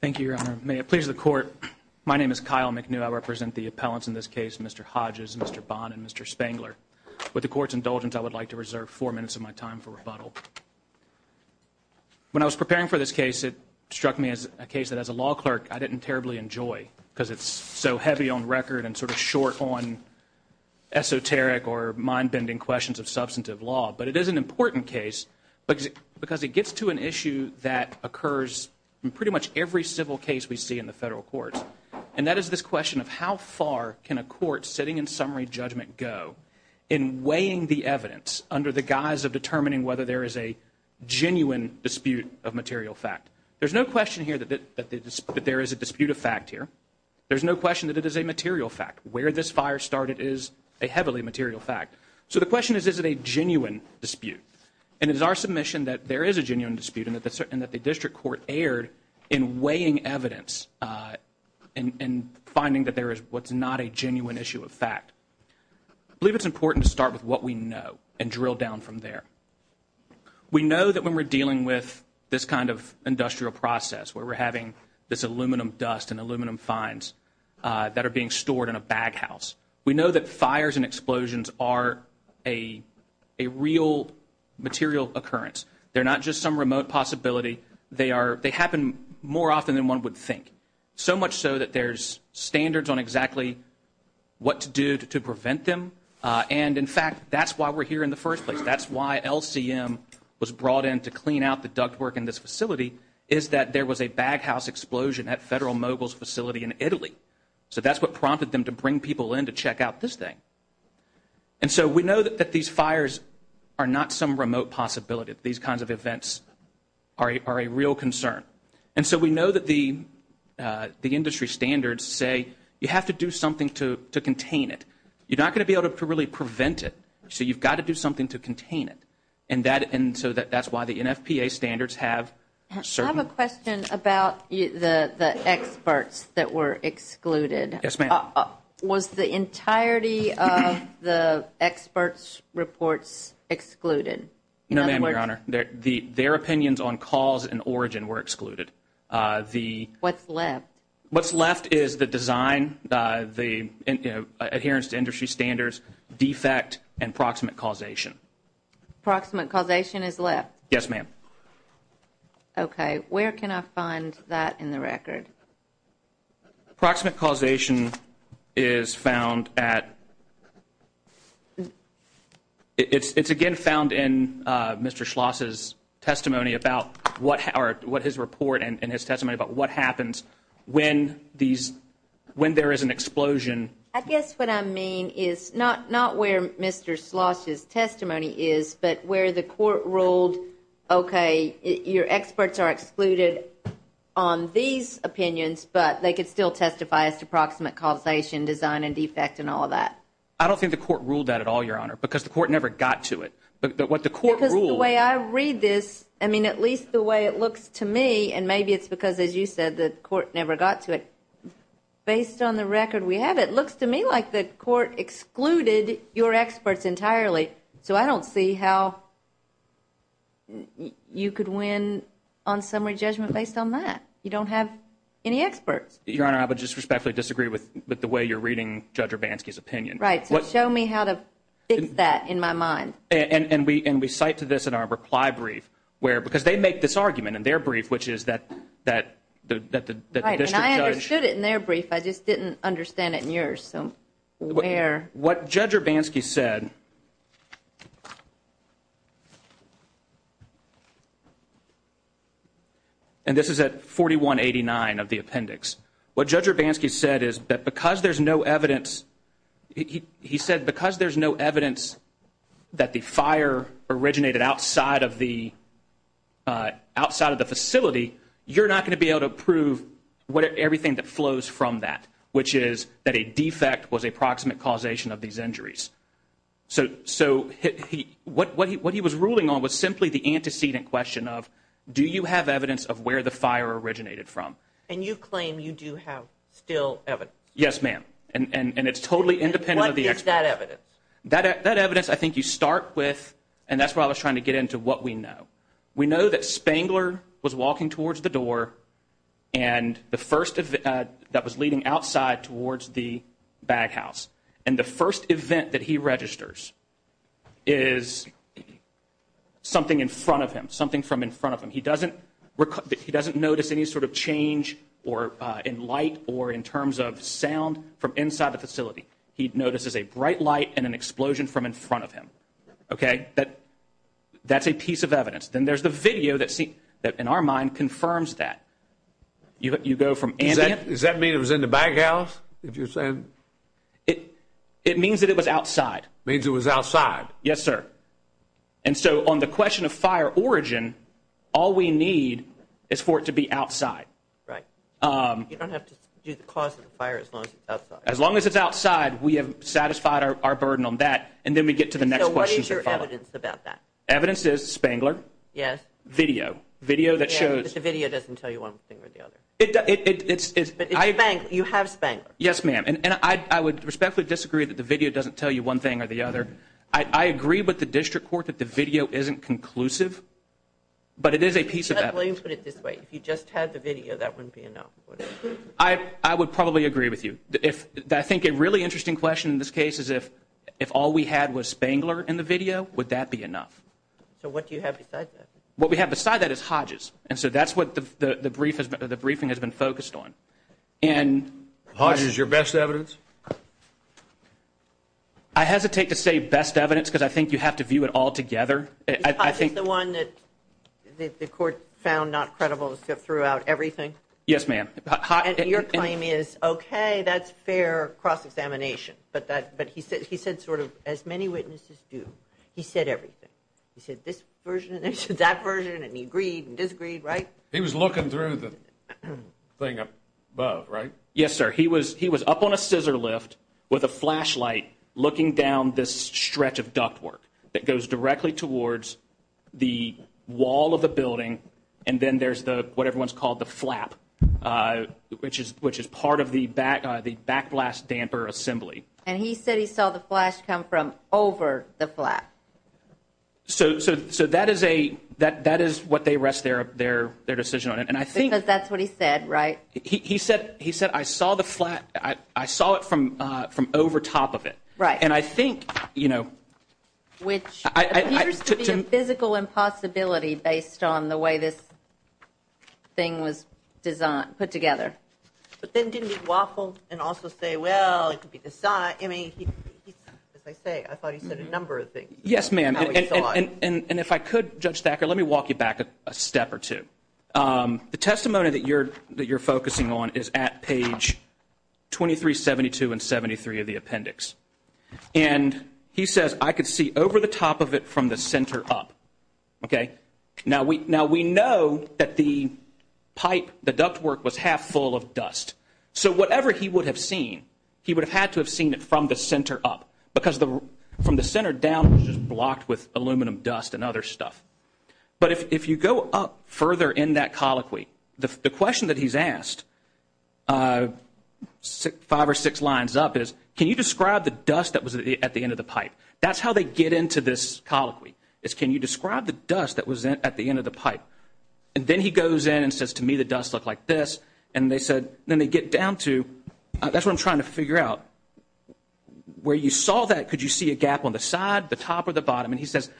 Thank you, Your Honor. May it please the Court, my name is Kyle McNew. I represent the appellants in this case, Mr. Hodges, Mr. Bond, and Mr. Spangler. With the Court's indulgence, I would like to reserve four minutes of my time for rebuttal. When I was preparing for this case, it struck me as a case that, as a law clerk, I didn't terribly enjoy because it's so heavy on record and sort of short on esoteric or mind-bending questions of substantive law. But it is an important case because it gets to an issue that occurs in pretty much every civil case we see in the federal courts, and that is this question of how far can a court sitting in summary judgment go in weighing the evidence under the guise of determining whether there is a genuine dispute of material fact? There's no question here that there is a dispute of fact here. There's no question that it is a material fact. Where this fire started is a heavily material fact. So the question is, is it a genuine dispute? And it is our submission that there is a genuine dispute and that the district court erred in weighing evidence and finding that there is what's not a genuine issue of fact. I believe it's important to start with what we know and drill down from there. We know that when we're dealing with this kind of industrial process where we're having this aluminum dust and aluminum fines that are being stored in a baghouse, we know that fires and explosions are a real material occurrence. They're not just some remote possibility. They happen more often than one would think, so much so that there's standards on exactly what to do to prevent them. And, in fact, that's why we're here in the first place. That's why LCM was brought in to clean out the ductwork in this facility is that there was a baghouse explosion at Federal Mogul's facility in Italy. So that's what prompted them to bring people in to check out this thing. And so we know that these fires are not some remote possibility. These kinds of events are a real concern. And so we know that the industry standards say you have to do something to contain it. You're not going to be able to really prevent it, so you've got to do something to contain it. And so that's why the NFPA standards have certain... I have a question about the experts that were excluded. Yes, ma'am. Was the entirety of the experts' reports excluded? No, ma'am, Your Honor. Their opinions on cause and origin were excluded. What's left? What's left is the design, the adherence to industry standards, defect, and proximate causation. Proximate causation is left? Yes, ma'am. Okay. Where can I find that in the record? Proximate causation is found at... It's again found in Mr. Schloss' testimony about what his report and his testimony about what happens when there is an explosion. I guess what I mean is not where Mr. Schloss' testimony is, but where the court ruled, okay, your experts are excluded on these opinions, but they could still testify as to proximate causation, design, and defect, and all of that. I don't think the court ruled that at all, Your Honor, because the court never got to it. But what the court ruled... Because the way I read this, I mean, at least the way it looks to me, and maybe it's because, as you said, the court never got to it. Based on the record we have, it looks to me like the court excluded your experts entirely, so I don't see how you could win on summary judgment based on that. You don't have any experts. Your Honor, I would disrespectfully disagree with the way you're reading Judge Urbanski's opinion. Right. So show me how to fix that in my mind. And we cite to this in our reply brief where, because they make this argument in their brief, which is that the district judge... Right, and I understood it in their brief. I just didn't understand it in yours. What Judge Urbanski said... And this is at 4189 of the appendix. What Judge Urbanski said is that because there's no evidence... He said because there's no evidence that the fire originated outside of the facility, you're not going to be able to prove everything that flows from that, which is that a defect was a proximate causation of these injuries. So what he was ruling on was simply the antecedent question of, do you have evidence of where the fire originated from? And you claim you do have still evidence. Yes, ma'am. And it's totally independent of the experts. What is that evidence? That evidence I think you start with, and that's where I was trying to get into what we know. We know that Spangler was walking towards the door, and the first event that was leading outside towards the baghouse, and the first event that he registers is something in front of him, something from in front of him. He doesn't notice any sort of change in light or in terms of sound from inside the facility. He notices a bright light and an explosion from in front of him. That's a piece of evidence. Then there's the video that in our mind confirms that. You go from ambient. Does that mean it was in the baghouse that you're saying? It means that it was outside. It means it was outside. Yes, sir. And so on the question of fire origin, all we need is for it to be outside. Right. You don't have to do the cause of the fire as long as it's outside. As long as it's outside, we have satisfied our burden on that, and then we get to the next question. So what is your evidence about that? Evidence is Spangler. Yes. Video. Video that shows. Yes, but the video doesn't tell you one thing or the other. You have Spangler. Yes, ma'am. And I would respectfully disagree that the video doesn't tell you one thing or the other. I agree with the district court that the video isn't conclusive, but it is a piece of evidence. Let me put it this way. If you just had the video, that wouldn't be enough. I would probably agree with you. I think a really interesting question in this case is if all we had was Spangler in the video, would that be enough? So what do you have besides that? What we have besides that is Hodges, and so that's what the briefing has been focused on. Hodges is your best evidence? I hesitate to say best evidence because I think you have to view it all together. Is Hodges the one that the court found not credible throughout everything? Yes, ma'am. And your claim is, okay, that's fair cross-examination, but he said sort of, as many witnesses do, he said everything. He said this version, and he said that version, and he agreed and disagreed, right? He was looking through the thing above, right? Yes, sir. He was up on a scissor lift with a flashlight looking down this stretch of ductwork that goes directly towards the wall of the building, and then there's what everyone's called the flap, which is part of the backblast damper assembly. And he said he saw the flash come from over the flap. So that is what they rest their decision on. Because that's what he said, right? He said, I saw it from over top of it. Right. Which appears to be a physical impossibility based on the way this thing was put together. But then didn't he waffle and also say, well, it could be this side? I mean, as I say, I thought he said a number of things. Yes, ma'am. And if I could, Judge Thacker, let me walk you back a step or two. The testimony that you're focusing on is at page 2372 and 73 of the appendix. And he says, I could see over the top of it from the center up. Now, we know that the pipe, the ductwork was half full of dust. So whatever he would have seen, he would have had to have seen it from the center up. Because from the center down, it was just blocked with aluminum dust and other stuff. But if you go up further in that colloquy, the question that he's asked five or six lines up is, can you describe the dust that was at the end of the pipe? That's how they get into this colloquy, is can you describe the dust that was at the end of the pipe? And then he goes in and says, to me, the dust looked like this. And they said, then they get down to, that's what I'm trying to figure out. Where you saw that, could you see a gap on the side, the top, or the bottom? And he says,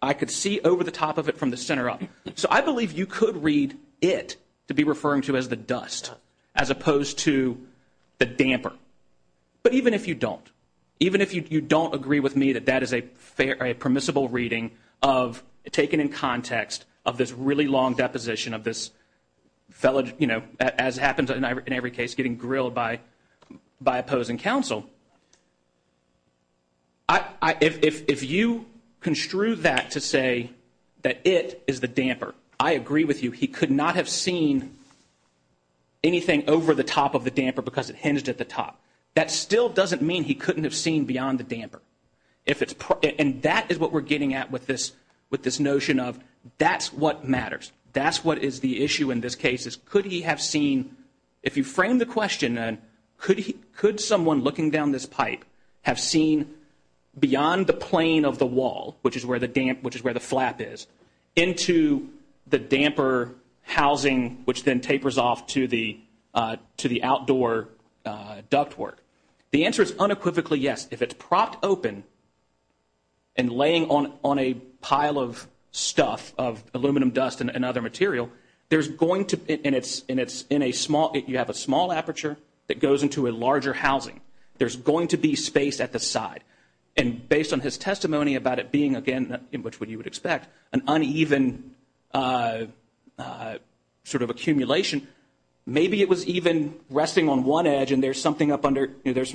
I could see over the top of it from the center up. So I believe you could read it to be referring to as the dust, as opposed to the damper. But even if you don't, even if you don't agree with me that that is a permissible reading of, taken in context of this really long deposition of this fellow, you know, as happens in every case, getting grilled by opposing counsel, if you construe that to say that it is the damper, I agree with you, he could not have seen anything over the top of the damper because it hinged at the top. That still doesn't mean he couldn't have seen beyond the damper. And that is what we're getting at with this notion of that's what matters. That's what is the issue in this case. Could he have seen, if you frame the question, could someone looking down this pipe have seen beyond the plane of the wall, which is where the flap is, into the damper housing which then tapers off to the outdoor ductwork? The answer is unequivocally yes. If it's propped open and laying on a pile of stuff, of aluminum dust and other material, and you have a small aperture that goes into a larger housing, there's going to be space at the side. And based on his testimony about it being, again, which you would expect, an uneven sort of accumulation, maybe it was even resting on one edge and there's some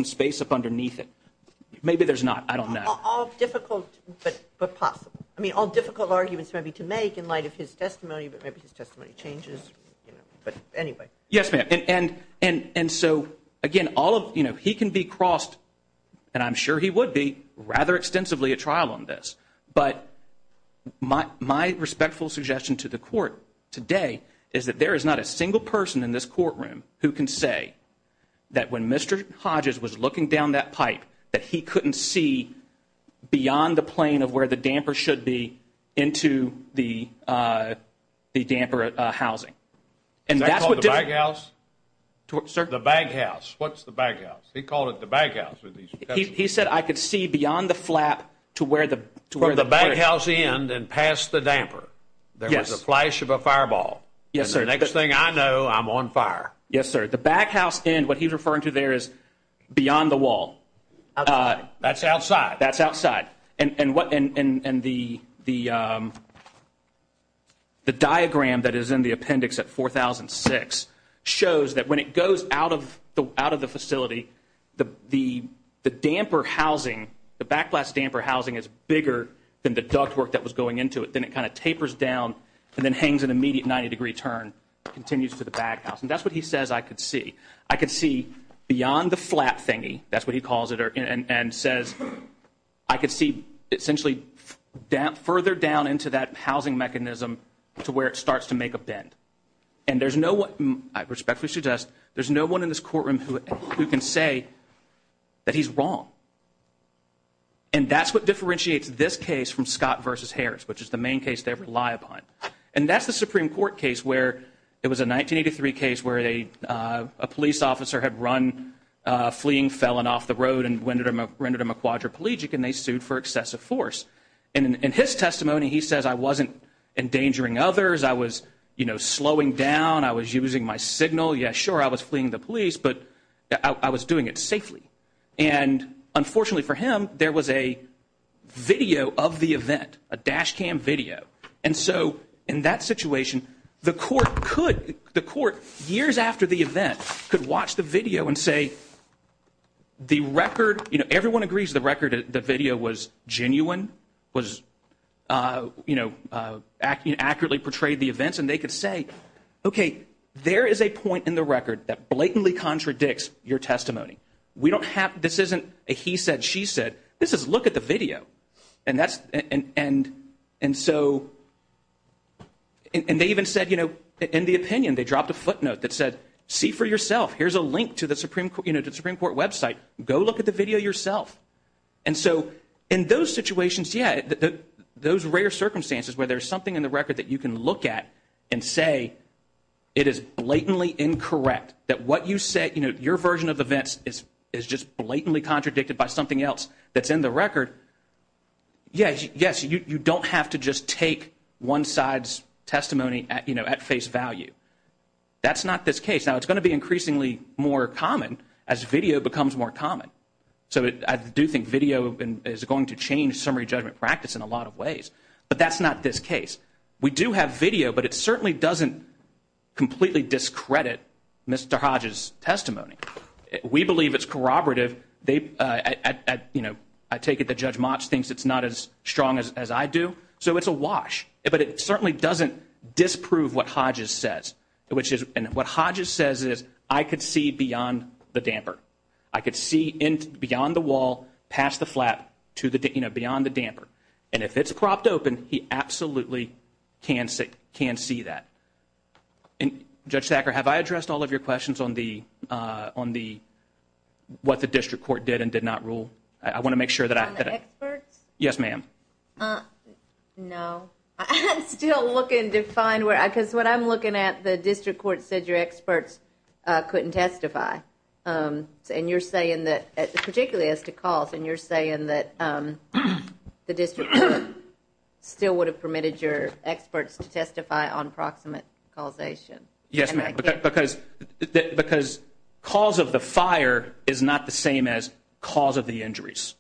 space up underneath it. Maybe there's not. I don't know. All difficult but possible. I mean, all difficult arguments maybe to make in light of his testimony, but maybe his testimony changes. But anyway. Yes, ma'am. And so, again, he can be crossed, and I'm sure he would be, rather extensively at trial on this. But my respectful suggestion to the court today is that there is not a single person in this courtroom who can say that when Mr. Hodges was looking down that pipe that he couldn't see beyond the plane of where the damper should be into the damper housing. Is that called the baghouse? Sir? The baghouse. What's the baghouse? He called it the baghouse. He said, I could see beyond the flap to where the plate. From the baghouse end and past the damper, there was a flash of a fireball. Yes, sir. And the next thing I know, I'm on fire. Yes, sir. The baghouse end, what he was referring to there is beyond the wall. Outside. That's outside. That's outside. And the diagram that is in the appendix at 4006 shows that when it goes out of the facility, the damper housing, the backblast damper housing is bigger than the ductwork that was going into it. Then it kind of tapers down and then hangs an immediate 90-degree turn, continues to the baghouse. And that's what he says I could see. I could see beyond the flap thingy, that's what he calls it, and says I could see essentially further down into that housing mechanism to where it starts to make a bend. And there's no one, I respectfully suggest, there's no one in this courtroom who can say that he's wrong. And that's what differentiates this case from Scott v. Harris, which is the main case they rely upon. And that's the Supreme Court case where it was a 1983 case where a police officer had run a fleeing felon off the road and rendered him a quadriplegic, and they sued for excessive force. And in his testimony, he says I wasn't endangering others. I was, you know, slowing down. I was using my signal. Yeah, sure, I was fleeing the police, but I was doing it safely. And unfortunately for him, there was a video of the event, a dash cam video. And so in that situation, the court could, the court years after the event could watch the video and say the record, you know, everyone agrees the record, the video was genuine, was, you know, accurately portrayed the events. And they could say, okay, there is a point in the record that blatantly contradicts your testimony. We don't have, this isn't a he said, she said. This is look at the video. And that's, and so, and they even said, you know, in the opinion they dropped a footnote that said see for yourself. Here's a link to the Supreme Court website. Go look at the video yourself. And so in those situations, yeah, those rare circumstances where there's something in the record that you can look at and say it is blatantly incorrect that what you said, you know, your version of events is just blatantly contradicted by something else that's in the record, yes, you don't have to just take one side's testimony, you know, at face value. That's not this case. Now, it's going to be increasingly more common as video becomes more common. So I do think video is going to change summary judgment practice in a lot of ways. But that's not this case. We do have video, but it certainly doesn't completely discredit Mr. Hodge's testimony. We believe it's corroborative. They, you know, I take it that Judge Motch thinks it's not as strong as I do. So it's a wash. But it certainly doesn't disprove what Hodges says, which is, and what Hodges says is I could see beyond the damper. I could see beyond the wall, past the flap, to the, you know, beyond the damper. And if it's propped open, he absolutely can see that. Judge Sacker, have I addressed all of your questions on what the district court did and did not rule? I want to make sure that I have. On the experts? Yes, ma'am. No. I'm still looking to find where, because what I'm looking at, the district court said your experts couldn't testify. And you're saying that, particularly as to cost, and you're saying that the district court still would have permitted your experts to testify on proximate causation. Yes, ma'am, because cause of the fire is not the same as cause of the injuries.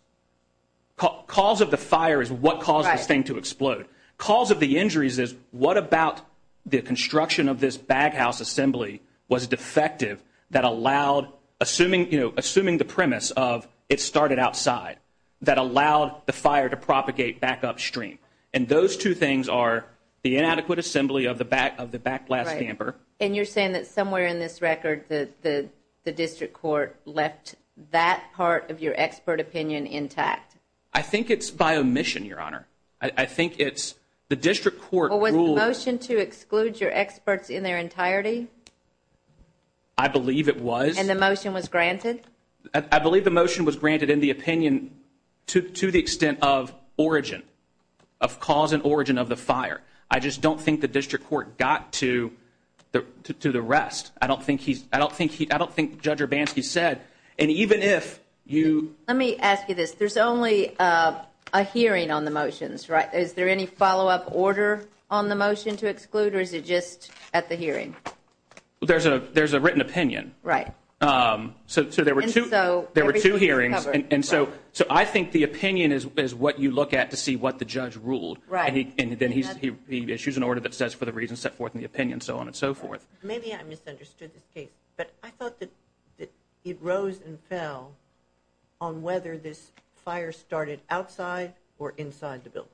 Cause of the fire is what caused this thing to explode. Cause of the injuries is what about the construction of this baghouse assembly was defective that allowed, assuming the premise of it started outside, that allowed the fire to propagate back upstream. And those two things are the inadequate assembly of the back blast damper. Right. And you're saying that somewhere in this record the district court left that part of your expert opinion intact. I think it's by omission, Your Honor. I think it's the district court ruled. Well, was the motion to exclude your experts in their entirety? I believe it was. And the motion was granted? I believe the motion was granted in the opinion to the extent of origin, of cause and origin of the fire. I just don't think the district court got to the rest. I don't think Judge Urbanski said, and even if you ---- Let me ask you this. There's only a hearing on the motions, right? Is there any follow-up order on the motion to exclude, or is it just at the hearing? There's a written opinion. Right. So there were two hearings. And so I think the opinion is what you look at to see what the judge ruled. Right. And then he issues an order that says, for the reasons set forth in the opinion, so on and so forth. Maybe I misunderstood this case, but I thought that it rose and fell on whether this fire started outside or inside the building.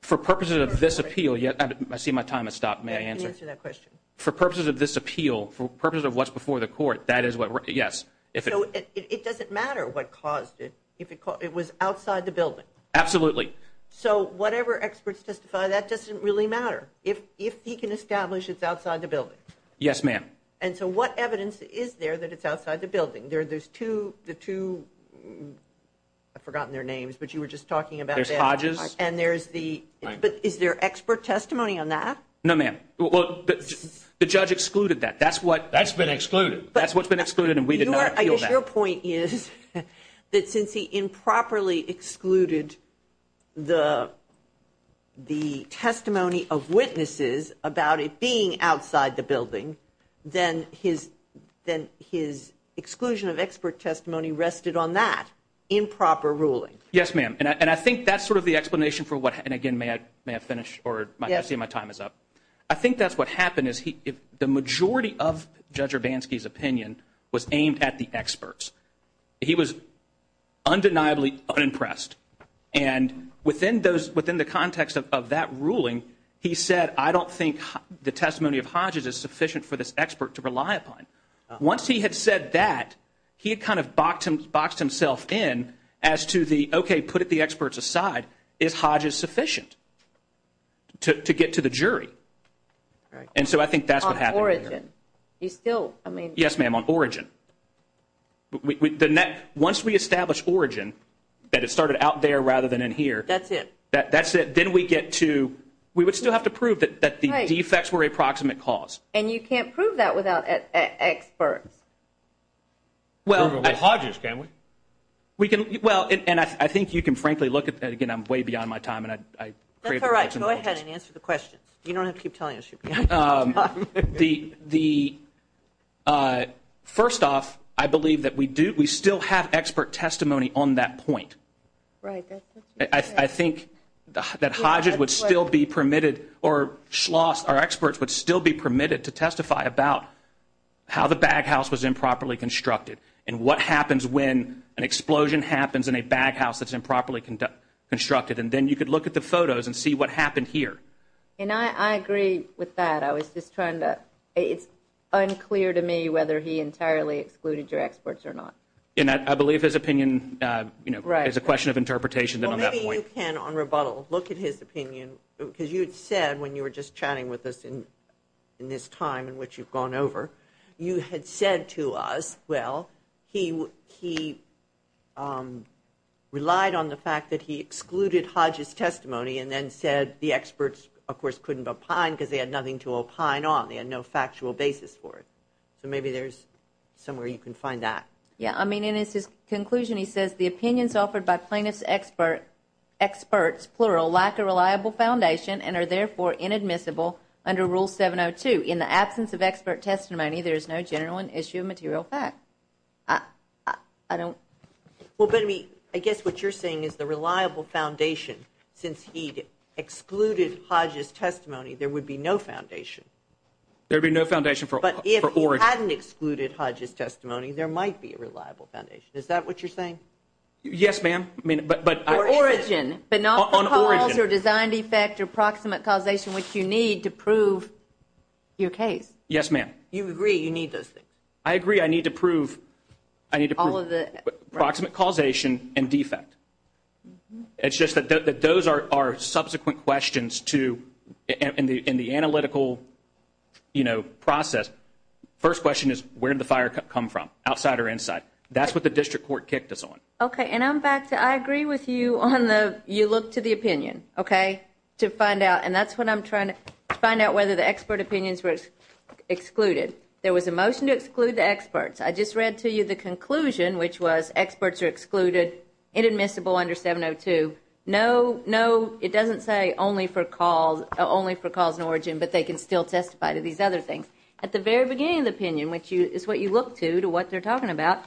For purposes of this appeal, I see my time has stopped. May I answer? You can answer that question. For purposes of this appeal, for purposes of what's before the court, that is what ---- yes. So it doesn't matter what caused it if it was outside the building? Absolutely. So whatever experts testify, that doesn't really matter if he can establish it's outside the building? Yes, ma'am. And so what evidence is there that it's outside the building? There's two ---- I've forgotten their names, but you were just talking about that. There's Hodges. And there's the ---- but is there expert testimony on that? No, ma'am. Well, the judge excluded that. That's what ---- That's been excluded. That's what's been excluded, and we did not appeal that. Your point is that since he improperly excluded the testimony of witnesses about it being outside the building, then his exclusion of expert testimony rested on that improper ruling. Yes, ma'am. And I think that's sort of the explanation for what ---- and, again, may I finish? Yes. My time is up. I think that's what happened is the majority of Judge Urbanski's opinion was aimed at the experts. He was undeniably unimpressed, and within the context of that ruling, he said, I don't think the testimony of Hodges is sufficient for this expert to rely upon. Once he had said that, he had kind of boxed himself in as to the, okay, put the experts aside. Is Hodges sufficient to get to the jury? And so I think that's what happened here. On origin. You still, I mean ---- Yes, ma'am, on origin. Once we establish origin, that it started out there rather than in here ---- That's it. That's it. Then we get to ---- we would still have to prove that the defects were a proximate cause. And you can't prove that without experts. Well, Hodges, can we? Well, and I think you can frankly look at that. Again, I'm way beyond my time, and I ---- That's all right. Go ahead and answer the questions. You don't have to keep telling us your questions all the time. The, first off, I believe that we do, we still have expert testimony on that point. Right. I think that Hodges would still be permitted, or Schloss, our experts, would still be permitted to testify about how the baghouse was improperly constructed and what happens when an explosion happens in a baghouse that's improperly constructed. And then you could look at the photos and see what happened here. And I agree with that. I was just trying to, it's unclear to me whether he entirely excluded your experts or not. And I believe his opinion, you know, is a question of interpretation on that point. Well, maybe you can, on rebuttal, look at his opinion, because you had said when you were just chatting with us in this time in which you've gone over, you had said to us, well, he relied on the fact that he excluded Hodges' testimony and then said the experts, of course, couldn't opine because they had nothing to opine on. They had no factual basis for it. So maybe there's somewhere you can find that. Yeah, I mean, in his conclusion he says, the opinions offered by plaintiffs' experts, plural, lack a reliable foundation and are therefore inadmissible under Rule 702. In the absence of expert testimony, there is no general issue of material fact. I don't. Well, but I mean, I guess what you're saying is the reliable foundation, since he excluded Hodges' testimony, there would be no foundation. There would be no foundation for origin. But if he hadn't excluded Hodges' testimony, there might be a reliable foundation. Is that what you're saying? Yes, ma'am. Or origin, but not the cause or design defect or proximate causation, which you need to prove your case. Yes, ma'am. You agree you need those things? I agree I need to prove proximate causation and defect. It's just that those are subsequent questions in the analytical process. First question is where did the fire come from, outside or inside? That's what the district court kicked us on. Okay, and I'm back to I agree with you on the you look to the opinion, okay, to find out, and that's what I'm trying to find out, whether the expert opinions were excluded. There was a motion to exclude the experts. I just read to you the conclusion, which was experts are excluded, inadmissible under 702. No, it doesn't say only for cause and origin, but they can still testify to these other things. At the very beginning of the opinion, which is what you look to, to what they're talking about,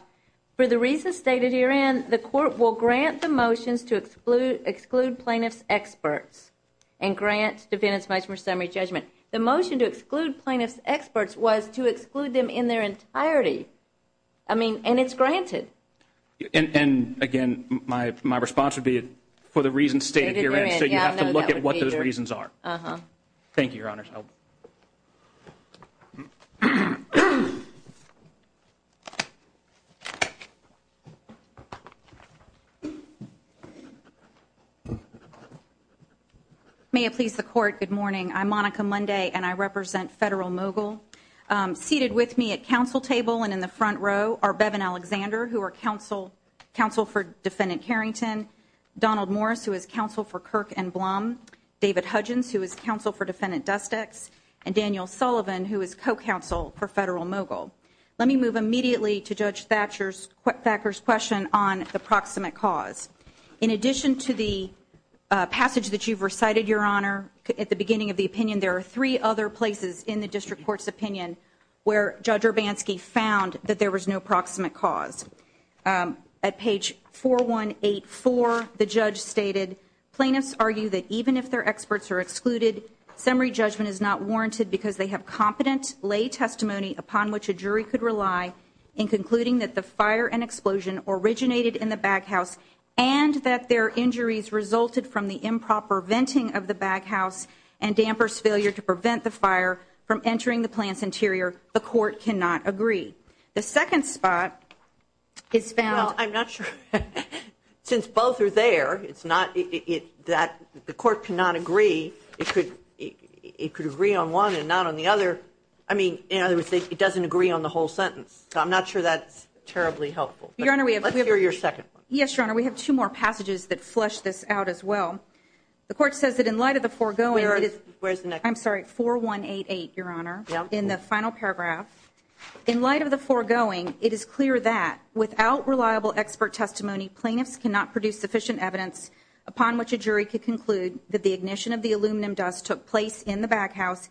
for the reasons stated herein, the court will grant the motions to exclude plaintiffs' experts and grant defendants much more summary judgment. The motion to exclude plaintiffs' experts was to exclude them in their entirety. I mean, and it's granted. And, again, my response would be for the reasons stated herein, so you have to look at what those reasons are. Thank you, Your Honor. May it please the court, good morning. I'm Monica Munday, and I represent Federal Mogul. Seated with me at council table and in the front row are Bevan Alexander, who are counsel for Defendant Carrington, Donald Morris, who is counsel for Kirk and Blum, David Hudgens, who is counsel for Defendant Dustex, and Daniel Sullivan, who is co-counsel for Federal Mogul. Let me move immediately to Judge Thacker's question on the proximate cause. In addition to the passage that you've recited, Your Honor, at the beginning of the opinion, there are three other places in the district court's opinion where Judge Urbanski found that there was no proximate cause. At page 4184, the judge stated, Plaintiffs argue that even if their experts are excluded, summary judgment is not warranted because they have competent lay testimony upon which a jury could rely in concluding that the fire and explosion originated in the baghouse and that their injuries resulted from the improper venting of the baghouse and damper's failure to prevent the fire from entering the plant's interior. The court cannot agree. The second spot is found. Well, I'm not sure. Since both are there, it's not that the court cannot agree. It could agree on one and not on the other. I mean, in other words, it doesn't agree on the whole sentence. So I'm not sure that's terribly helpful. Your Honor, we have. Let's hear your second one. Yes, Your Honor. We have two more passages that flesh this out as well. The court says that in light of the foregoing. Where is the next one? I'm sorry. 4188, Your Honor. In the final paragraph. In light of the foregoing, it is clear that without reliable expert testimony, plaintiffs cannot produce sufficient evidence upon which a jury could conclude that the ignition of the aluminum dust took place in the baghouse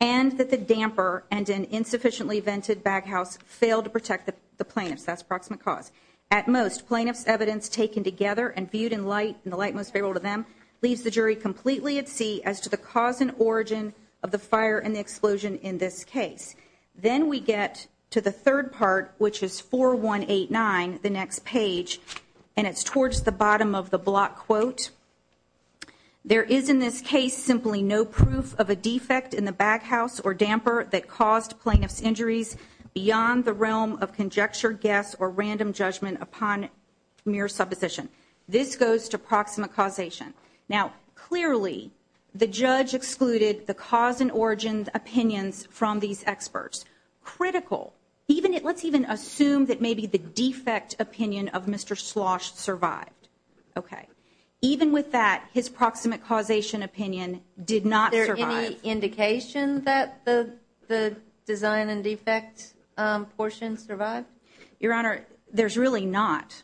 and that the damper and an insufficiently vented baghouse failed to protect the plaintiffs. That's approximate cause. At most, plaintiffs' evidence taken together and viewed in light, in the light most favorable to them, leaves the jury completely at sea as to the cause and origin of the fire and the explosion in this case. Then we get to the third part, which is 4189, the next page, and it's towards the bottom of the block quote. There is in this case simply no proof of a defect in the baghouse or damper that caused plaintiffs' injuries beyond the realm of conjecture, guess, or random judgment upon mere supposition. This goes to approximate causation. Now, clearly, the judge excluded the cause and origin opinions from these experts. Critical. Let's even assume that maybe the defect opinion of Mr. Schloss survived. Okay. Even with that, his proximate causation opinion did not survive. Is there any indication that the design and defect portion survived? Your Honor, there's really not.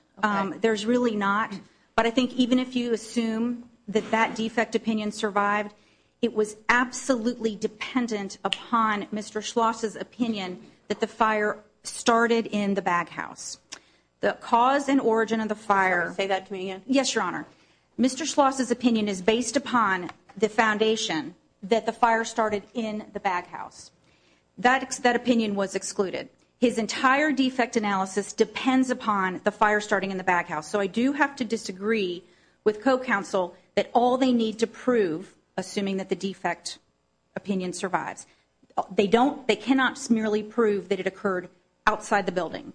There's really not. But I think even if you assume that that defect opinion survived, it was absolutely dependent upon Mr. Schloss' opinion that the fire started in the baghouse. The cause and origin of the fire. Say that to me again. Yes, Your Honor. Mr. Schloss' opinion is based upon the foundation that the fire started in the baghouse. That opinion was excluded. His entire defect analysis depends upon the fire starting in the baghouse. So I do have to disagree with co-counsel that all they need to prove, assuming that the defect opinion survives, they cannot merely prove that it occurred outside the building.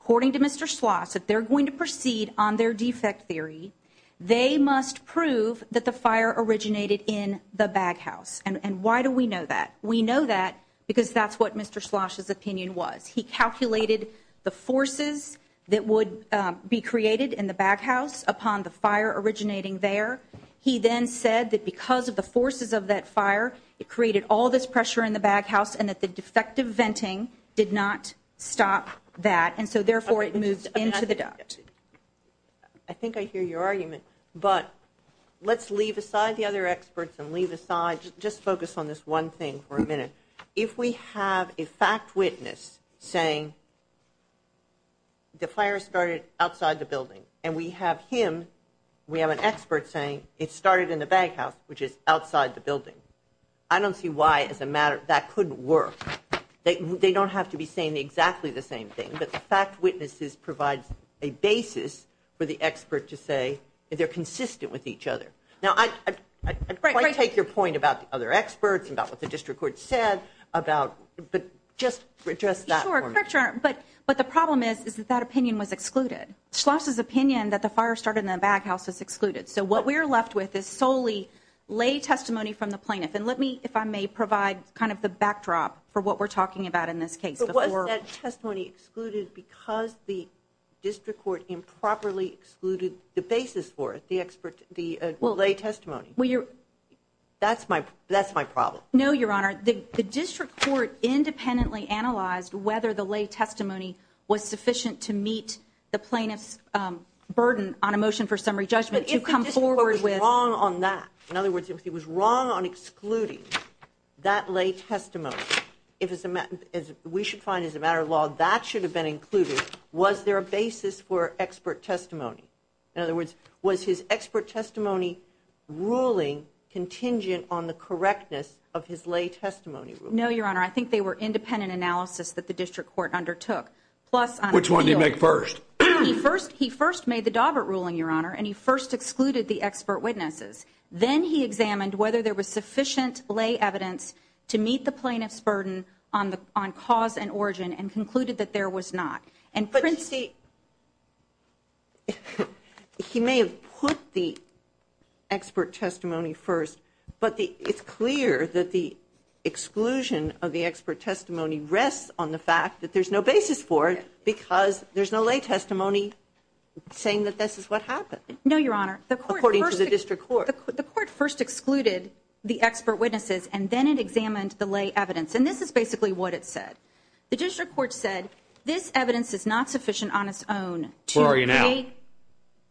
According to Mr. Schloss, if they're going to proceed on their defect theory, they must prove that the fire originated in the baghouse. And why do we know that? We know that because that's what Mr. Schloss' opinion was. He calculated the forces that would be created in the baghouse upon the fire originating there. He then said that because of the forces of that fire, it created all this pressure in the baghouse and that the defective venting did not stop that. And so, therefore, it moved into the duct. I think I hear your argument. But let's leave aside the other experts and leave aside, just focus on this one thing for a minute. If we have a fact witness saying the fire started outside the building and we have him, we have an expert saying it started in the baghouse, which is outside the building, I don't see why, as a matter of fact, that couldn't work. They don't have to be saying exactly the same thing, but the fact witnesses provide a basis for the expert to say they're consistent with each other. Now, I take your point about the other experts and about what the district court said, but just address that for me. But the problem is that that opinion was excluded. Schloss' opinion that the fire started in the baghouse was excluded. So what we're left with is solely lay testimony from the plaintiff. And let me, if I may, provide kind of the backdrop for what we're talking about in this case. But wasn't that testimony excluded because the district court improperly excluded the basis for it? The lay testimony. That's my problem. No, Your Honor. The district court independently analyzed whether the lay testimony was sufficient to meet the plaintiff's burden on a motion for summary judgment to come forward with. But if the district court was wrong on that, in other words, if he was wrong on excluding that lay testimony, we should find, as a matter of law, that should have been included. Was there a basis for expert testimony? In other words, was his expert testimony ruling contingent on the correctness of his lay testimony ruling? No, Your Honor. I think they were independent analysis that the district court undertook. Which one did he make first? He first made the Dawbert ruling, Your Honor, and he first excluded the expert witnesses. Then he examined whether there was sufficient lay evidence to meet the plaintiff's burden on cause and origin and concluded that there was not. But you see, he may have put the expert testimony first, but it's clear that the exclusion of the expert testimony rests on the fact that there's no basis for it because there's no lay testimony saying that this is what happened. No, Your Honor. According to the district court. The court first excluded the expert witnesses, and then it examined the lay evidence. And this is basically what it said. The district court said this evidence is not sufficient on its own. Who are you now?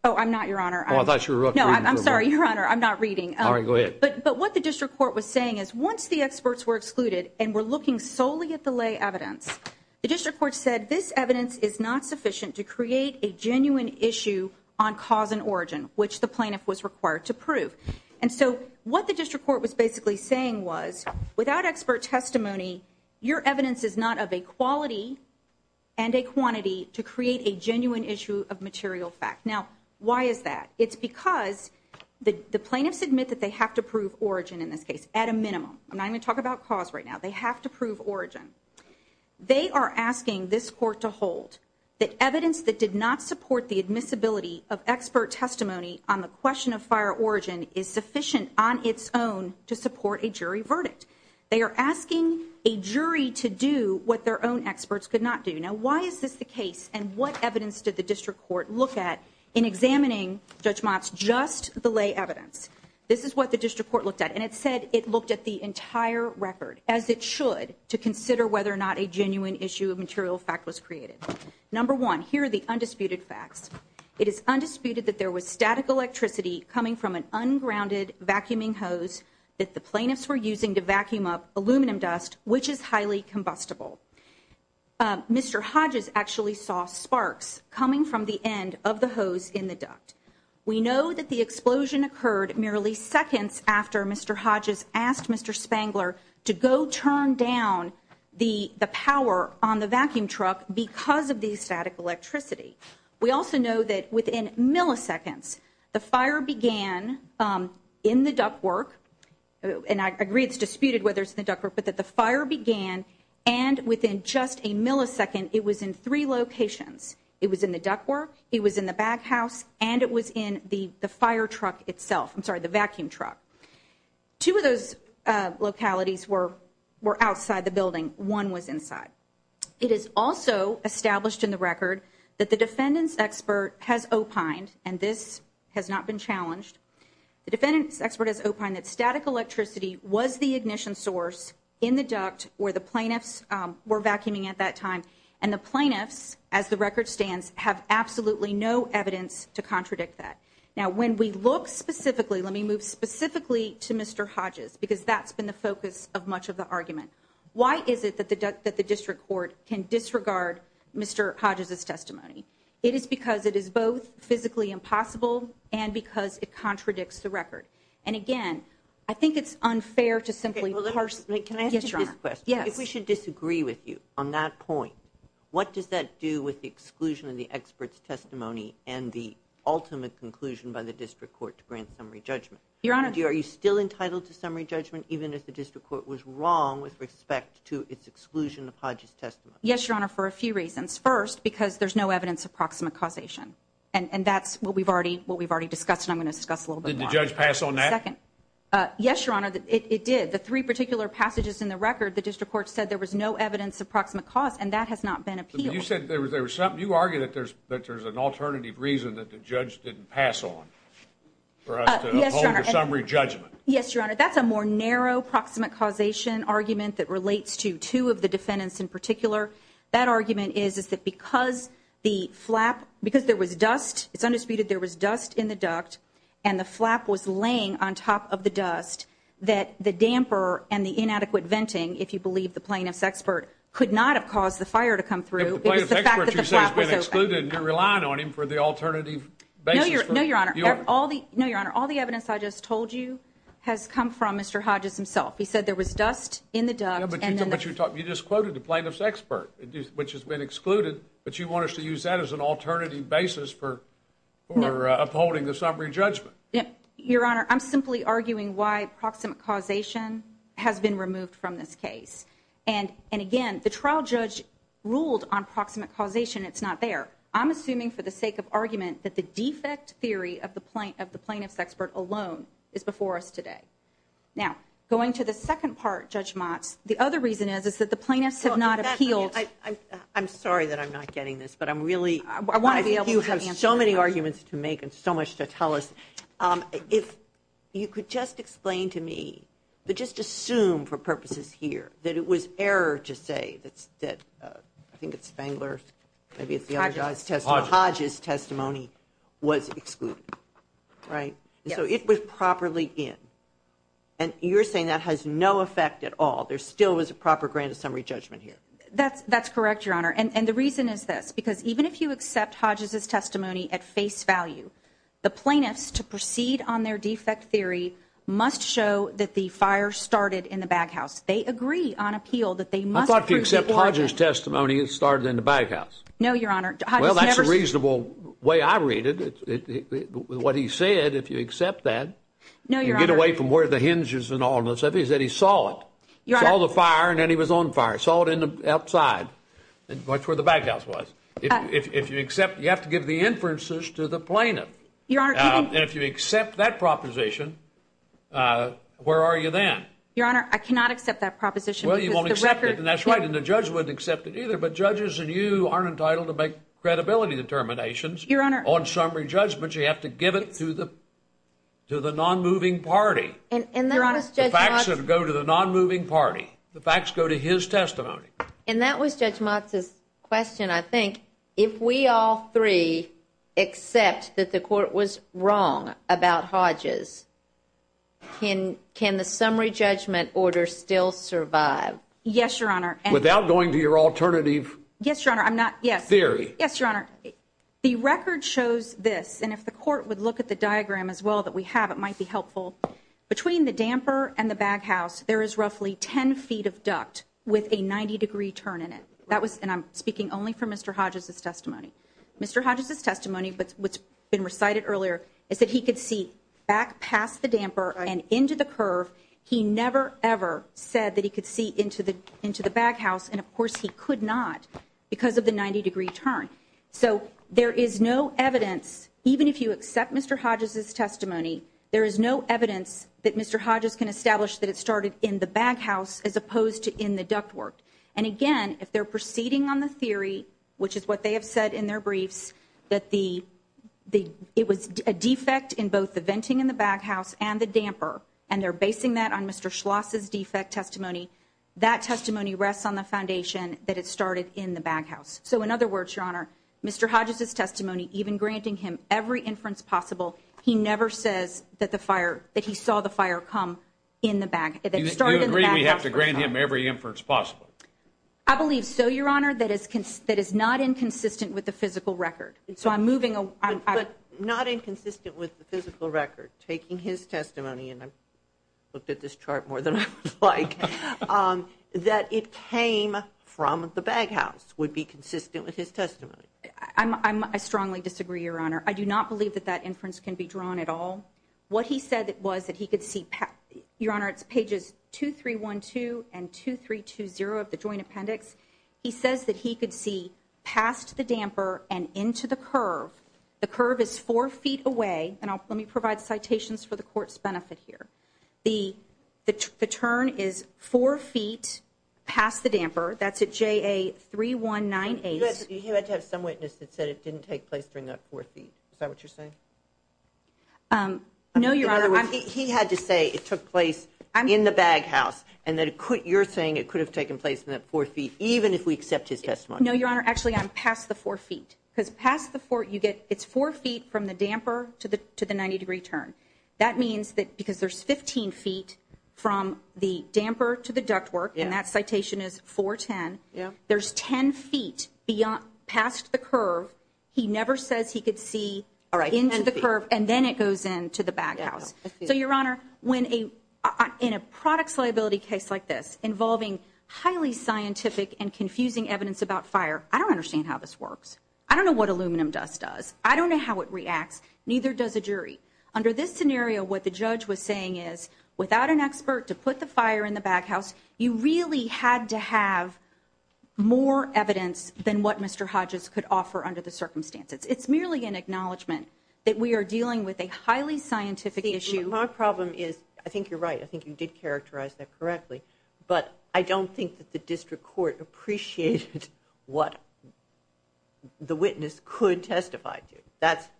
Oh, I'm not, Your Honor. Oh, I thought you were reading. No, I'm sorry, Your Honor. I'm not reading. All right, go ahead. But what the district court was saying is once the experts were excluded and were looking solely at the lay evidence, the district court said this evidence is not sufficient to create a genuine issue on cause and origin, which the plaintiff was required to prove. And so what the district court was basically saying was without expert testimony, your evidence is not of a quality and a quantity to create a genuine issue of material fact. Now, why is that? It's because the plaintiffs admit that they have to prove origin in this case at a minimum. I'm not going to talk about cause right now. They have to prove origin. They are asking this court to hold that evidence that did not support the admissibility of expert testimony on the question of fire origin is sufficient on its own to support a jury verdict. They are asking a jury to do what their own experts could not do. Now, why is this the case? And what evidence did the district court look at in examining Judge Mott's just the lay evidence? This is what the district court looked at, and it said it looked at the entire record, as it should, to consider whether or not a genuine issue of material fact was created. Number one, here are the undisputed facts. It is undisputed that there was static electricity coming from an ungrounded vacuuming hose that the plaintiffs were using to vacuum up aluminum dust, which is highly combustible. Mr. Hodges actually saw sparks coming from the end of the hose in the duct. We know that the explosion occurred merely seconds after Mr. Hodges asked Mr. Spangler to go turn down the power on the vacuum truck because of the static electricity. We also know that within milliseconds, the fire began in the duct work, and I agree it's disputed whether it's in the duct work, but that the fire began, and within just a millisecond, it was in three locations. It was in the duct work, it was in the back house, and it was in the fire truck itself. I'm sorry, the vacuum truck. Two of those localities were outside the building. One was inside. It is also established in the record that the defendant's expert has opined, and this has not been challenged, the defendant's expert has opined that static electricity was the ignition source in the duct where the plaintiffs were vacuuming at that time, and the plaintiffs, as the record stands, have absolutely no evidence to contradict that. Now, when we look specifically, let me move specifically to Mr. Hodges Why is it that the district court can disregard Mr. Hodges' testimony? It is because it is both physically impossible and because it contradicts the record. And again, I think it's unfair to simply parse. Can I ask you this question? Yes. If we should disagree with you on that point, what does that do with the exclusion of the expert's testimony and the ultimate conclusion by the district court to grant summary judgment? Your Honor. Mr. Hodges, are you still entitled to summary judgment even if the district court was wrong with respect to its exclusion of Hodges' testimony? Yes, Your Honor, for a few reasons. First, because there's no evidence of proximate causation, and that's what we've already discussed and I'm going to discuss a little bit more. Did the judge pass on that? Second, yes, Your Honor, it did. The three particular passages in the record, the district court said there was no evidence of proximate cause, and that has not been appealed. You said there was something. You argue that there's an alternative reason that the judge didn't pass on for us to uphold for summary judgment. Yes, Your Honor. That's a more narrow proximate causation argument that relates to two of the defendants in particular. That argument is that because the flap, because there was dust, it's undisputed there was dust in the duct, and the flap was laying on top of the dust, that the damper and the inadequate venting, if you believe the plaintiff's expert, could not have caused the fire to come through. If the plaintiff's expert, you said, has been excluded and you're relying on him for the alternative basis. No, Your Honor. No, Your Honor. All the evidence I just told you has come from Mr. Hodges himself. He said there was dust in the duct. But you just quoted the plaintiff's expert, which has been excluded, but you want us to use that as an alternative basis for upholding the summary judgment. Your Honor, I'm simply arguing why proximate causation has been removed from this case. And, again, the trial judge ruled on proximate causation. It's not there. However, I'm assuming for the sake of argument that the defect theory of the plaintiff's expert alone is before us today. Now, going to the second part, Judge Motz, the other reason is that the plaintiffs have not appealed. I'm sorry that I'm not getting this, but I'm really, I think you have so many arguments to make and so much to tell us. If you could just explain to me, but just assume for purposes here, that it was error to say that, I think it's Bangler, maybe it's the other guy's testimony, Hodges' testimony was excluded, right? So it was properly in. And you're saying that has no effect at all. There still is a proper grand summary judgment here. That's correct, Your Honor. And the reason is this, because even if you accept Hodges' testimony at face value, the plaintiffs to proceed on their defect theory must show that the fire started in the baghouse. They agree on appeal that they must proceed. I thought if you accept Hodges' testimony, it started in the baghouse. No, Your Honor. Well, that's a reasonable way I read it. What he said, if you accept that, and get away from where the hinges and all of this, is that he saw it. Saw the fire, and then he was on fire. Saw it outside. That's where the baghouse was. If you accept, you have to give the inferences to the plaintiff. Your Honor. And if you accept that proposition, where are you then? Your Honor, I cannot accept that proposition. Well, you won't accept it. And that's right. And the judge wouldn't accept it either. But judges and you aren't entitled to make credibility determinations. Your Honor. On summary judgments, you have to give it to the non-moving party. Your Honor. The facts go to the non-moving party. The facts go to his testimony. And that was Judge Motz's question, I think. If we all three accept that the court was wrong about Hodges, can the summary judgment order still survive? Yes, Your Honor. Without going to your alternative theory. Yes, Your Honor. The record shows this. And if the court would look at the diagram as well that we have, it might be helpful. Between the damper and the baghouse, there is roughly 10 feet of duct with a 90-degree turn in it. And I'm speaking only from Mr. Hodges' testimony. Mr. Hodges' testimony, what's been recited earlier, is that he could see back past the damper and into the curve. He never, ever said that he could see into the baghouse. And, of course, he could not because of the 90-degree turn. So there is no evidence, even if you accept Mr. Hodges' testimony, there is no evidence that Mr. Hodges can establish that it started in the baghouse as opposed to in the ductwork. And, again, if they're proceeding on the theory, which is what they have said in their briefs, that it was a defect in both the venting in the baghouse and the damper, and they're basing that on Mr. Schloss' defect testimony, that testimony rests on the foundation that it started in the baghouse. So, in other words, Your Honor, Mr. Hodges' testimony, even granting him every inference possible, he never says that he saw the fire come in the baghouse. Do you agree we have to grant him every inference possible? I believe so, Your Honor, that is not inconsistent with the physical record. So I'm moving on. But not inconsistent with the physical record, taking his testimony, and I've looked at this chart more than I would like, that it came from the baghouse would be consistent with his testimony. I strongly disagree, Your Honor. I do not believe that that inference can be drawn at all. What he said was that he could see, Your Honor, it's pages 2312 and 2320 of the joint appendix. He says that he could see past the damper and into the curve. The curve is four feet away, and let me provide citations for the Court's benefit here. The turn is four feet past the damper. That's at JA3198. You had to have some witness that said it didn't take place during that four feet. Is that what you're saying? No, Your Honor. In other words, he had to say it took place in the baghouse and that you're saying it could have taken place in that four feet, even if we accept his testimony. No, Your Honor. Actually, I'm past the four feet. Because past the four, you get it's four feet from the damper to the 90-degree turn. That means that because there's 15 feet from the damper to the ductwork, and that citation is 410, there's 10 feet past the curve. He never says he could see into the curve, and then it goes into the baghouse. So, Your Honor, in a products liability case like this, involving highly scientific and confusing evidence about fire, I don't understand how this works. I don't know what aluminum dust does. I don't know how it reacts. Neither does a jury. Under this scenario, what the judge was saying is, without an expert to put the fire in the baghouse, you really had to have more evidence than what Mr. Hodges could offer under the circumstances. It's merely an acknowledgement that we are dealing with a highly scientific issue. My problem is, I think you're right. I think you did characterize that correctly. But I don't think that the district court appreciated what the witness could testify to.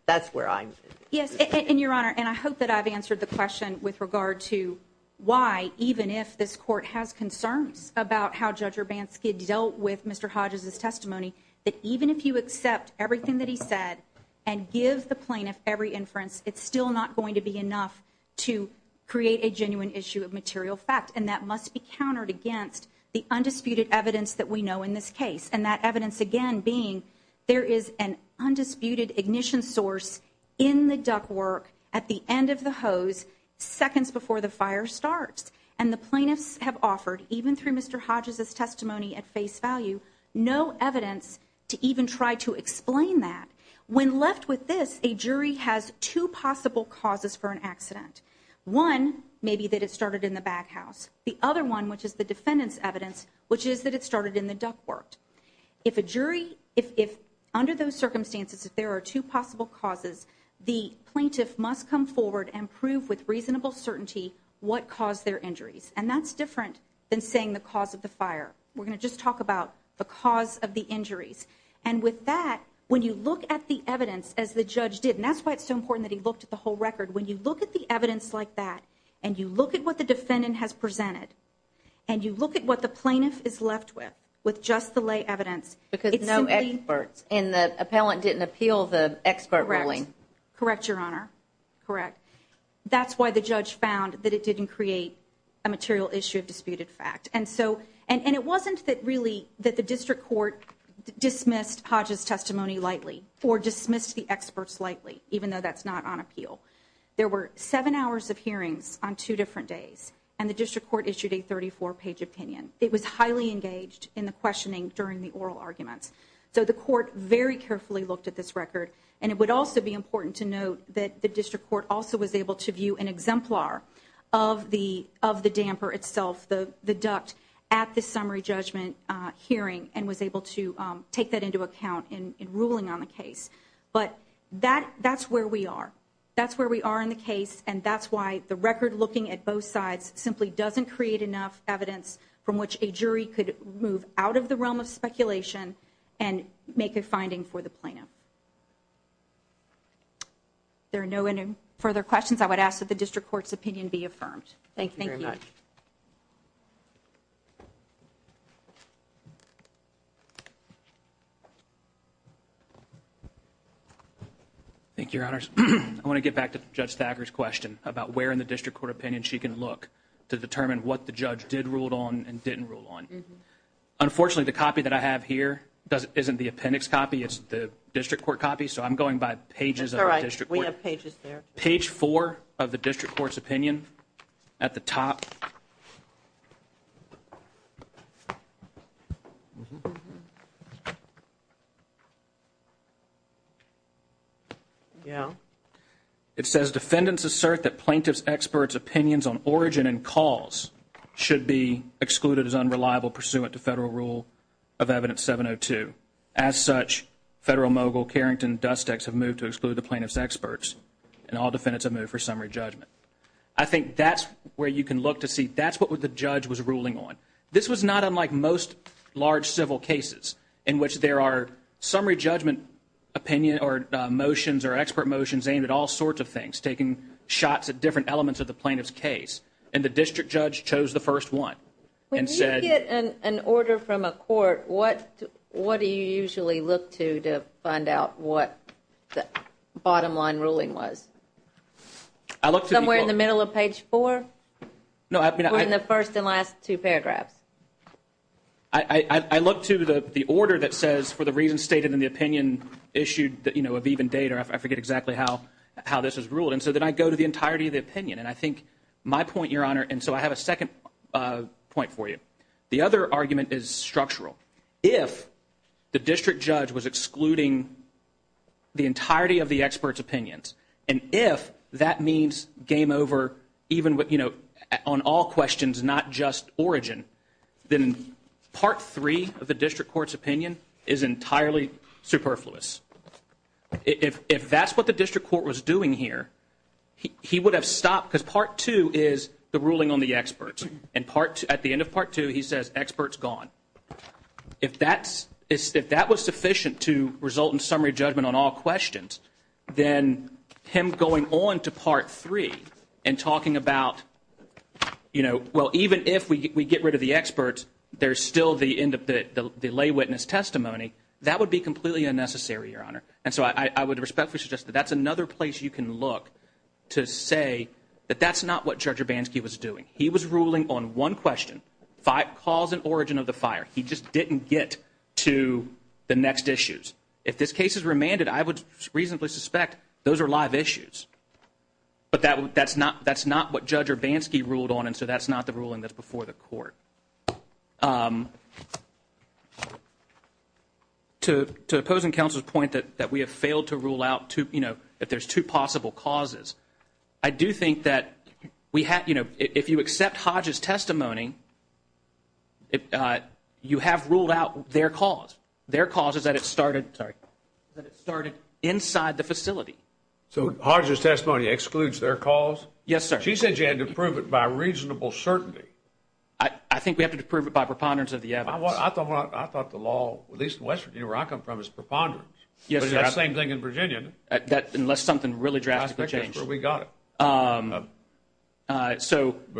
That's where I'm at. Yes, and, Your Honor, and I hope that I've answered the question with regard to why, even if this court has concerns about how Judge Urbanski dealt with Mr. Hodges' testimony, that even if you accept everything that he said and give the plaintiff every inference, it's still not going to be enough to create a genuine issue of material fact, and that must be countered against the undisputed evidence that we know in this case, and that evidence, again, being there is an undisputed ignition source in the ductwork at the end of the hose seconds before the fire starts. And the plaintiffs have offered, even through Mr. Hodges' testimony at face value, no evidence to even try to explain that. When left with this, a jury has two possible causes for an accident. One may be that it started in the baghouse. The other one, which is the defendant's evidence, which is that it started in the ductwork. If under those circumstances, if there are two possible causes, the plaintiff must come forward and prove with reasonable certainty what caused their injuries, and that's different than saying the cause of the fire. We're going to just talk about the cause of the injuries. And with that, when you look at the evidence, as the judge did, and that's why it's so important that he looked at the whole record, when you look at the evidence like that and you look at what the defendant has presented and you look at what the plaintiff is left with, with just the lay evidence. Because no experts, and the appellant didn't appeal the expert ruling. Correct. Correct, Your Honor. Correct. That's why the judge found that it didn't create a material issue of disputed fact. And so, and it wasn't that really that the district court dismissed Hodges' testimony lightly or dismissed the experts lightly, even though that's not on appeal. There were seven hours of hearings on two different days, and the district court issued a 34-page opinion. It was highly engaged in the questioning during the oral arguments. So the court very carefully looked at this record, and it would also be important to note that the district court also was able to view an exemplar of the damper itself, the duct, at the summary judgment hearing and was able to take that into account in ruling on the case. But that's where we are. That's where we are in the case, and that's why the record looking at both sides simply doesn't create enough evidence from which a jury could move out of the realm of speculation and make a finding for the plaintiff. If there are no further questions, I would ask that the district court's opinion be affirmed. Thank you very much. Thank you, Your Honors. I want to get back to Judge Thacker's question about where in the district court opinion she can look to determine what the judge did rule on and didn't rule on. Unfortunately, the copy that I have here isn't the appendix copy. It's the district court copy, so I'm going by pages of the district court. That's all right. We have pages there. Page four of the district court's opinion at the top. It says defendants assert that plaintiff's experts' opinions on origin and cause should be excluded as unreliable pursuant to federal rule of evidence 702. As such, federal mogul Carrington and Dustex have moved to exclude the plaintiff's experts, and all defendants have moved for summary judgment. I think that's where you can look to see that's what the judge was ruling on. This was not unlike most large civil cases in which there are summary judgment opinions or motions or expert motions aimed at all sorts of things, taking shots at different elements of the plaintiff's case, and the district judge chose the first one. When you get an order from a court, what do you usually look to to find out what the bottom line ruling was? Somewhere in the middle of page four? Or in the first and last two paragraphs? I look to the order that says for the reasons stated in the opinion issued of even date, or I forget exactly how this was ruled, and so then I go to the entirety of the opinion. And I think my point, Your Honor, and so I have a second point for you. The other argument is structural. If the district judge was excluding the entirety of the expert's opinions, and if that means game over on all questions, not just origin, then part three of the district court's opinion is entirely superfluous. If that's what the district court was doing here, he would have stopped, because part two is the ruling on the experts. And at the end of part two, he says experts gone. If that was sufficient to result in summary judgment on all questions, then him going on to part three and talking about, you know, well, even if we get rid of the experts, there's still the lay witness testimony. That would be completely unnecessary, Your Honor. And so I would respectfully suggest that that's another place you can look to say that that's not what Judge Urbanski was doing. He was ruling on one question, cause and origin of the fire. He just didn't get to the next issues. If this case is remanded, I would reasonably suspect those are live issues. But that's not what Judge Urbanski ruled on, and so that's not the ruling that's before the court. To opposing counsel's point that we have failed to rule out, you know, if there's two possible causes, I do think that, you know, if you accept Hodge's testimony, you have ruled out their cause. Their cause is that it started inside the facility. So Hodge's testimony excludes their cause? Yes, sir. She said you had to prove it by reasonable certainty. I think we have to prove it by preponderance of the evidence. I thought the law, at least in West Virginia where I come from, is preponderance. Yes, sir. That same thing in Virginia. Unless something really drastically changed. That's where we got it. But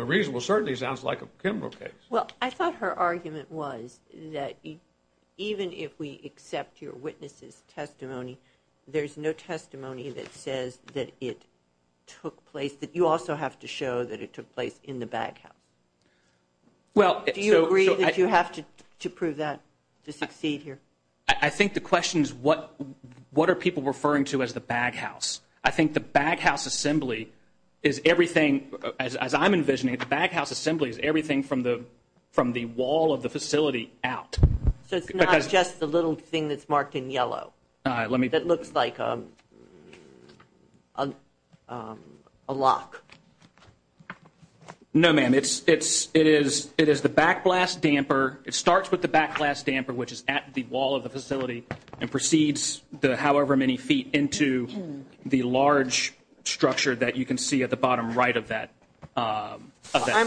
reasonable certainty sounds like a criminal case. Well, I thought her argument was that even if we accept your witness's testimony, there's no testimony that says that it took place, that you also have to show that it took place in the baghouse. Do you agree that you have to prove that to succeed here? I think the question is what are people referring to as the baghouse? I think the baghouse assembly is everything, as I'm envisioning it, the baghouse assembly is everything from the wall of the facility out. That looks like a lock. No, ma'am. It is the backblast damper. It starts with the backblast damper, which is at the wall of the facility, and proceeds however many feet into the large structure that you can see at the bottom right of that. I'm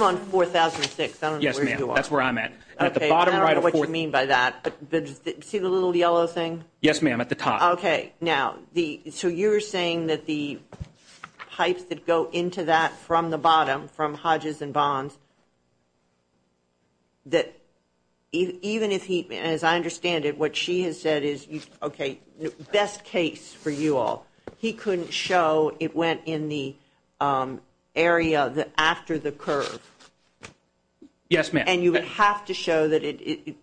on 4006. Yes, ma'am. That's where I'm at. I don't know what you mean by that. See the little yellow thing? Yes, ma'am, at the top. Okay. Now, so you're saying that the pipes that go into that from the bottom, from Hodges and Bonds, that even if he, as I understand it, what she has said is, okay, best case for you all, he couldn't show it went in the area after the curve. Yes, ma'am. And you would have to show that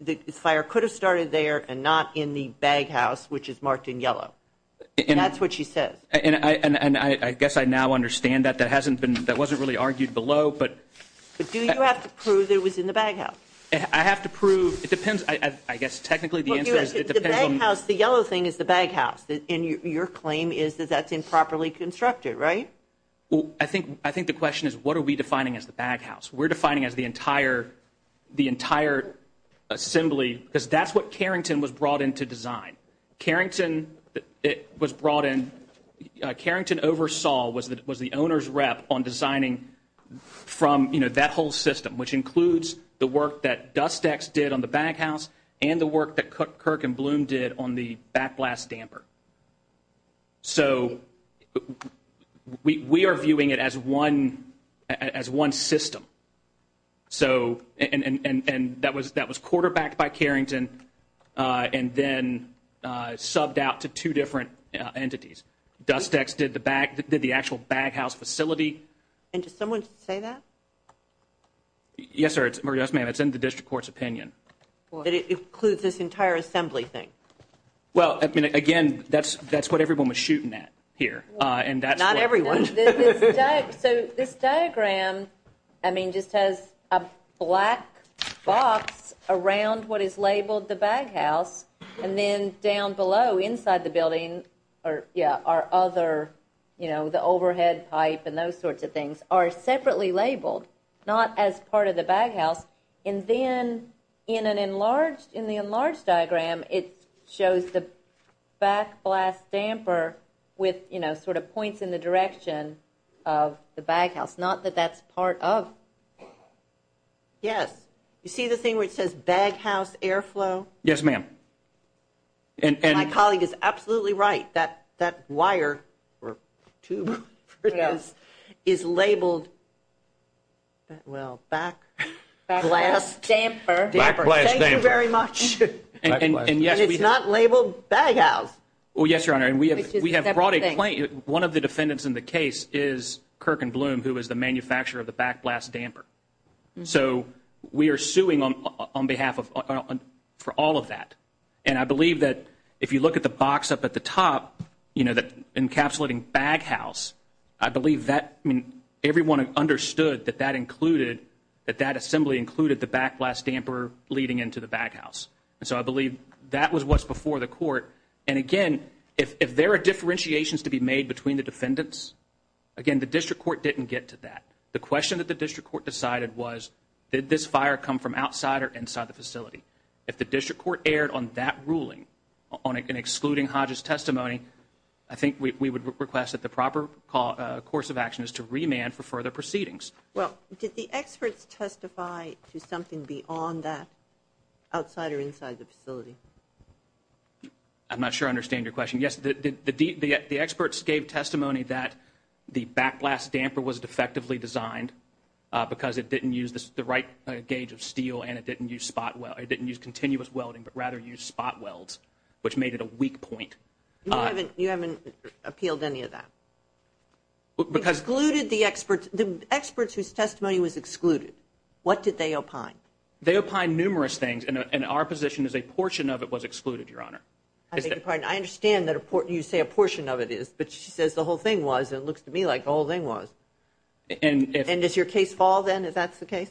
the fire could have started there and not in the baghouse, which is marked in yellow. And that's what she says. And I guess I now understand that. That wasn't really argued below. But do you have to prove it was in the baghouse? I have to prove. It depends. I guess technically the answer is it depends on. The yellow thing is the baghouse, and your claim is that that's improperly constructed, right? I think the question is what are we defining as the baghouse? We're defining as the entire assembly, because that's what Carrington was brought in to design. Carrington was brought in. Carrington oversaw, was the owner's rep on designing from, you know, that whole system, which includes the work that Dust-X did on the baghouse and the work that Kirk and Bloom did on the backblast damper. So we are viewing it as one system. And that was quarterbacked by Carrington and then subbed out to two different entities. Dust-X did the actual baghouse facility. And did someone say that? Yes, ma'am. It's in the district court's opinion. That it includes this entire assembly thing. Well, I mean, again, that's what everyone was shooting at here. Not everyone. So this diagram, I mean, just has a black box around what is labeled the baghouse, and then down below inside the building are other, you know, the overhead pipe and those sorts of things are separately labeled, not as part of the baghouse. And then in the enlarged diagram, it shows the backblast damper with, you know, sort of points in the direction of the baghouse, not that that's part of. Yes. You see the thing where it says baghouse airflow? Yes, ma'am. And my colleague is absolutely right. That wire or tube is labeled, well, backblast damper. Thank you very much. And it's not labeled baghouse. Well, yes, Your Honor, and we have brought a claim. One of the defendants in the case is Kirk and Bloom, who is the manufacturer of the backblast damper. So we are suing them on behalf of, for all of that. And I believe that if you look at the box up at the top, you know, that encapsulating baghouse, I believe that, I mean, everyone understood that that included, that that assembly included the backblast damper leading into the baghouse. And so I believe that was what's before the court. And, again, if there are differentiations to be made between the defendants, again, the district court didn't get to that. The question that the district court decided was, did this fire come from outside or inside the facility? If the district court erred on that ruling, on excluding Hodges' testimony, I think we would request that the proper course of action is to remand for further proceedings. Well, did the experts testify to something beyond that, outside or inside the facility? I'm not sure I understand your question. Yes, the experts gave testimony that the backblast damper was defectively designed because it didn't use the right gauge of steel and it didn't use continuous welding, but rather used spot welds, which made it a weak point. You haven't appealed any of that? We excluded the experts whose testimony was excluded. What did they opine? They opined numerous things, and our position is a portion of it was excluded, Your Honor. I understand that you say a portion of it is, but she says the whole thing was, and it looks to me like the whole thing was. And does your case fall, then, if that's the case?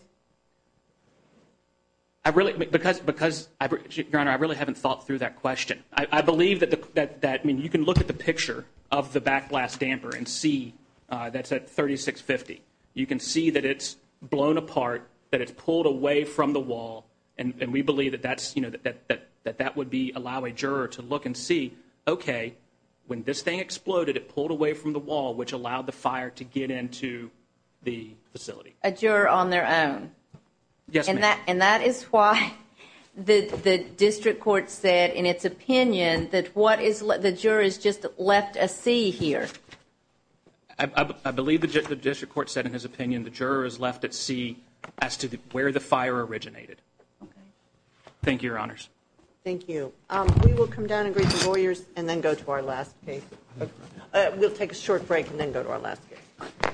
Because, Your Honor, I really haven't thought through that question. I believe that you can look at the picture of the backblast damper and see that's at 3650. You can see that it's blown apart, that it's pulled away from the wall, and we believe that that would allow a juror to look and see, okay, when this thing exploded, it pulled away from the wall, which allowed the fire to get into the facility. A juror on their own. Yes, ma'am. And that is why the district court said, in its opinion, that the juror has just left a C here. I believe the district court said, in his opinion, the juror has left a C as to where the fire originated. Okay. Thank you, Your Honors. Thank you. We will come down and greet the lawyers and then go to our last case. We'll take a short break and then go to our last case. All right, then.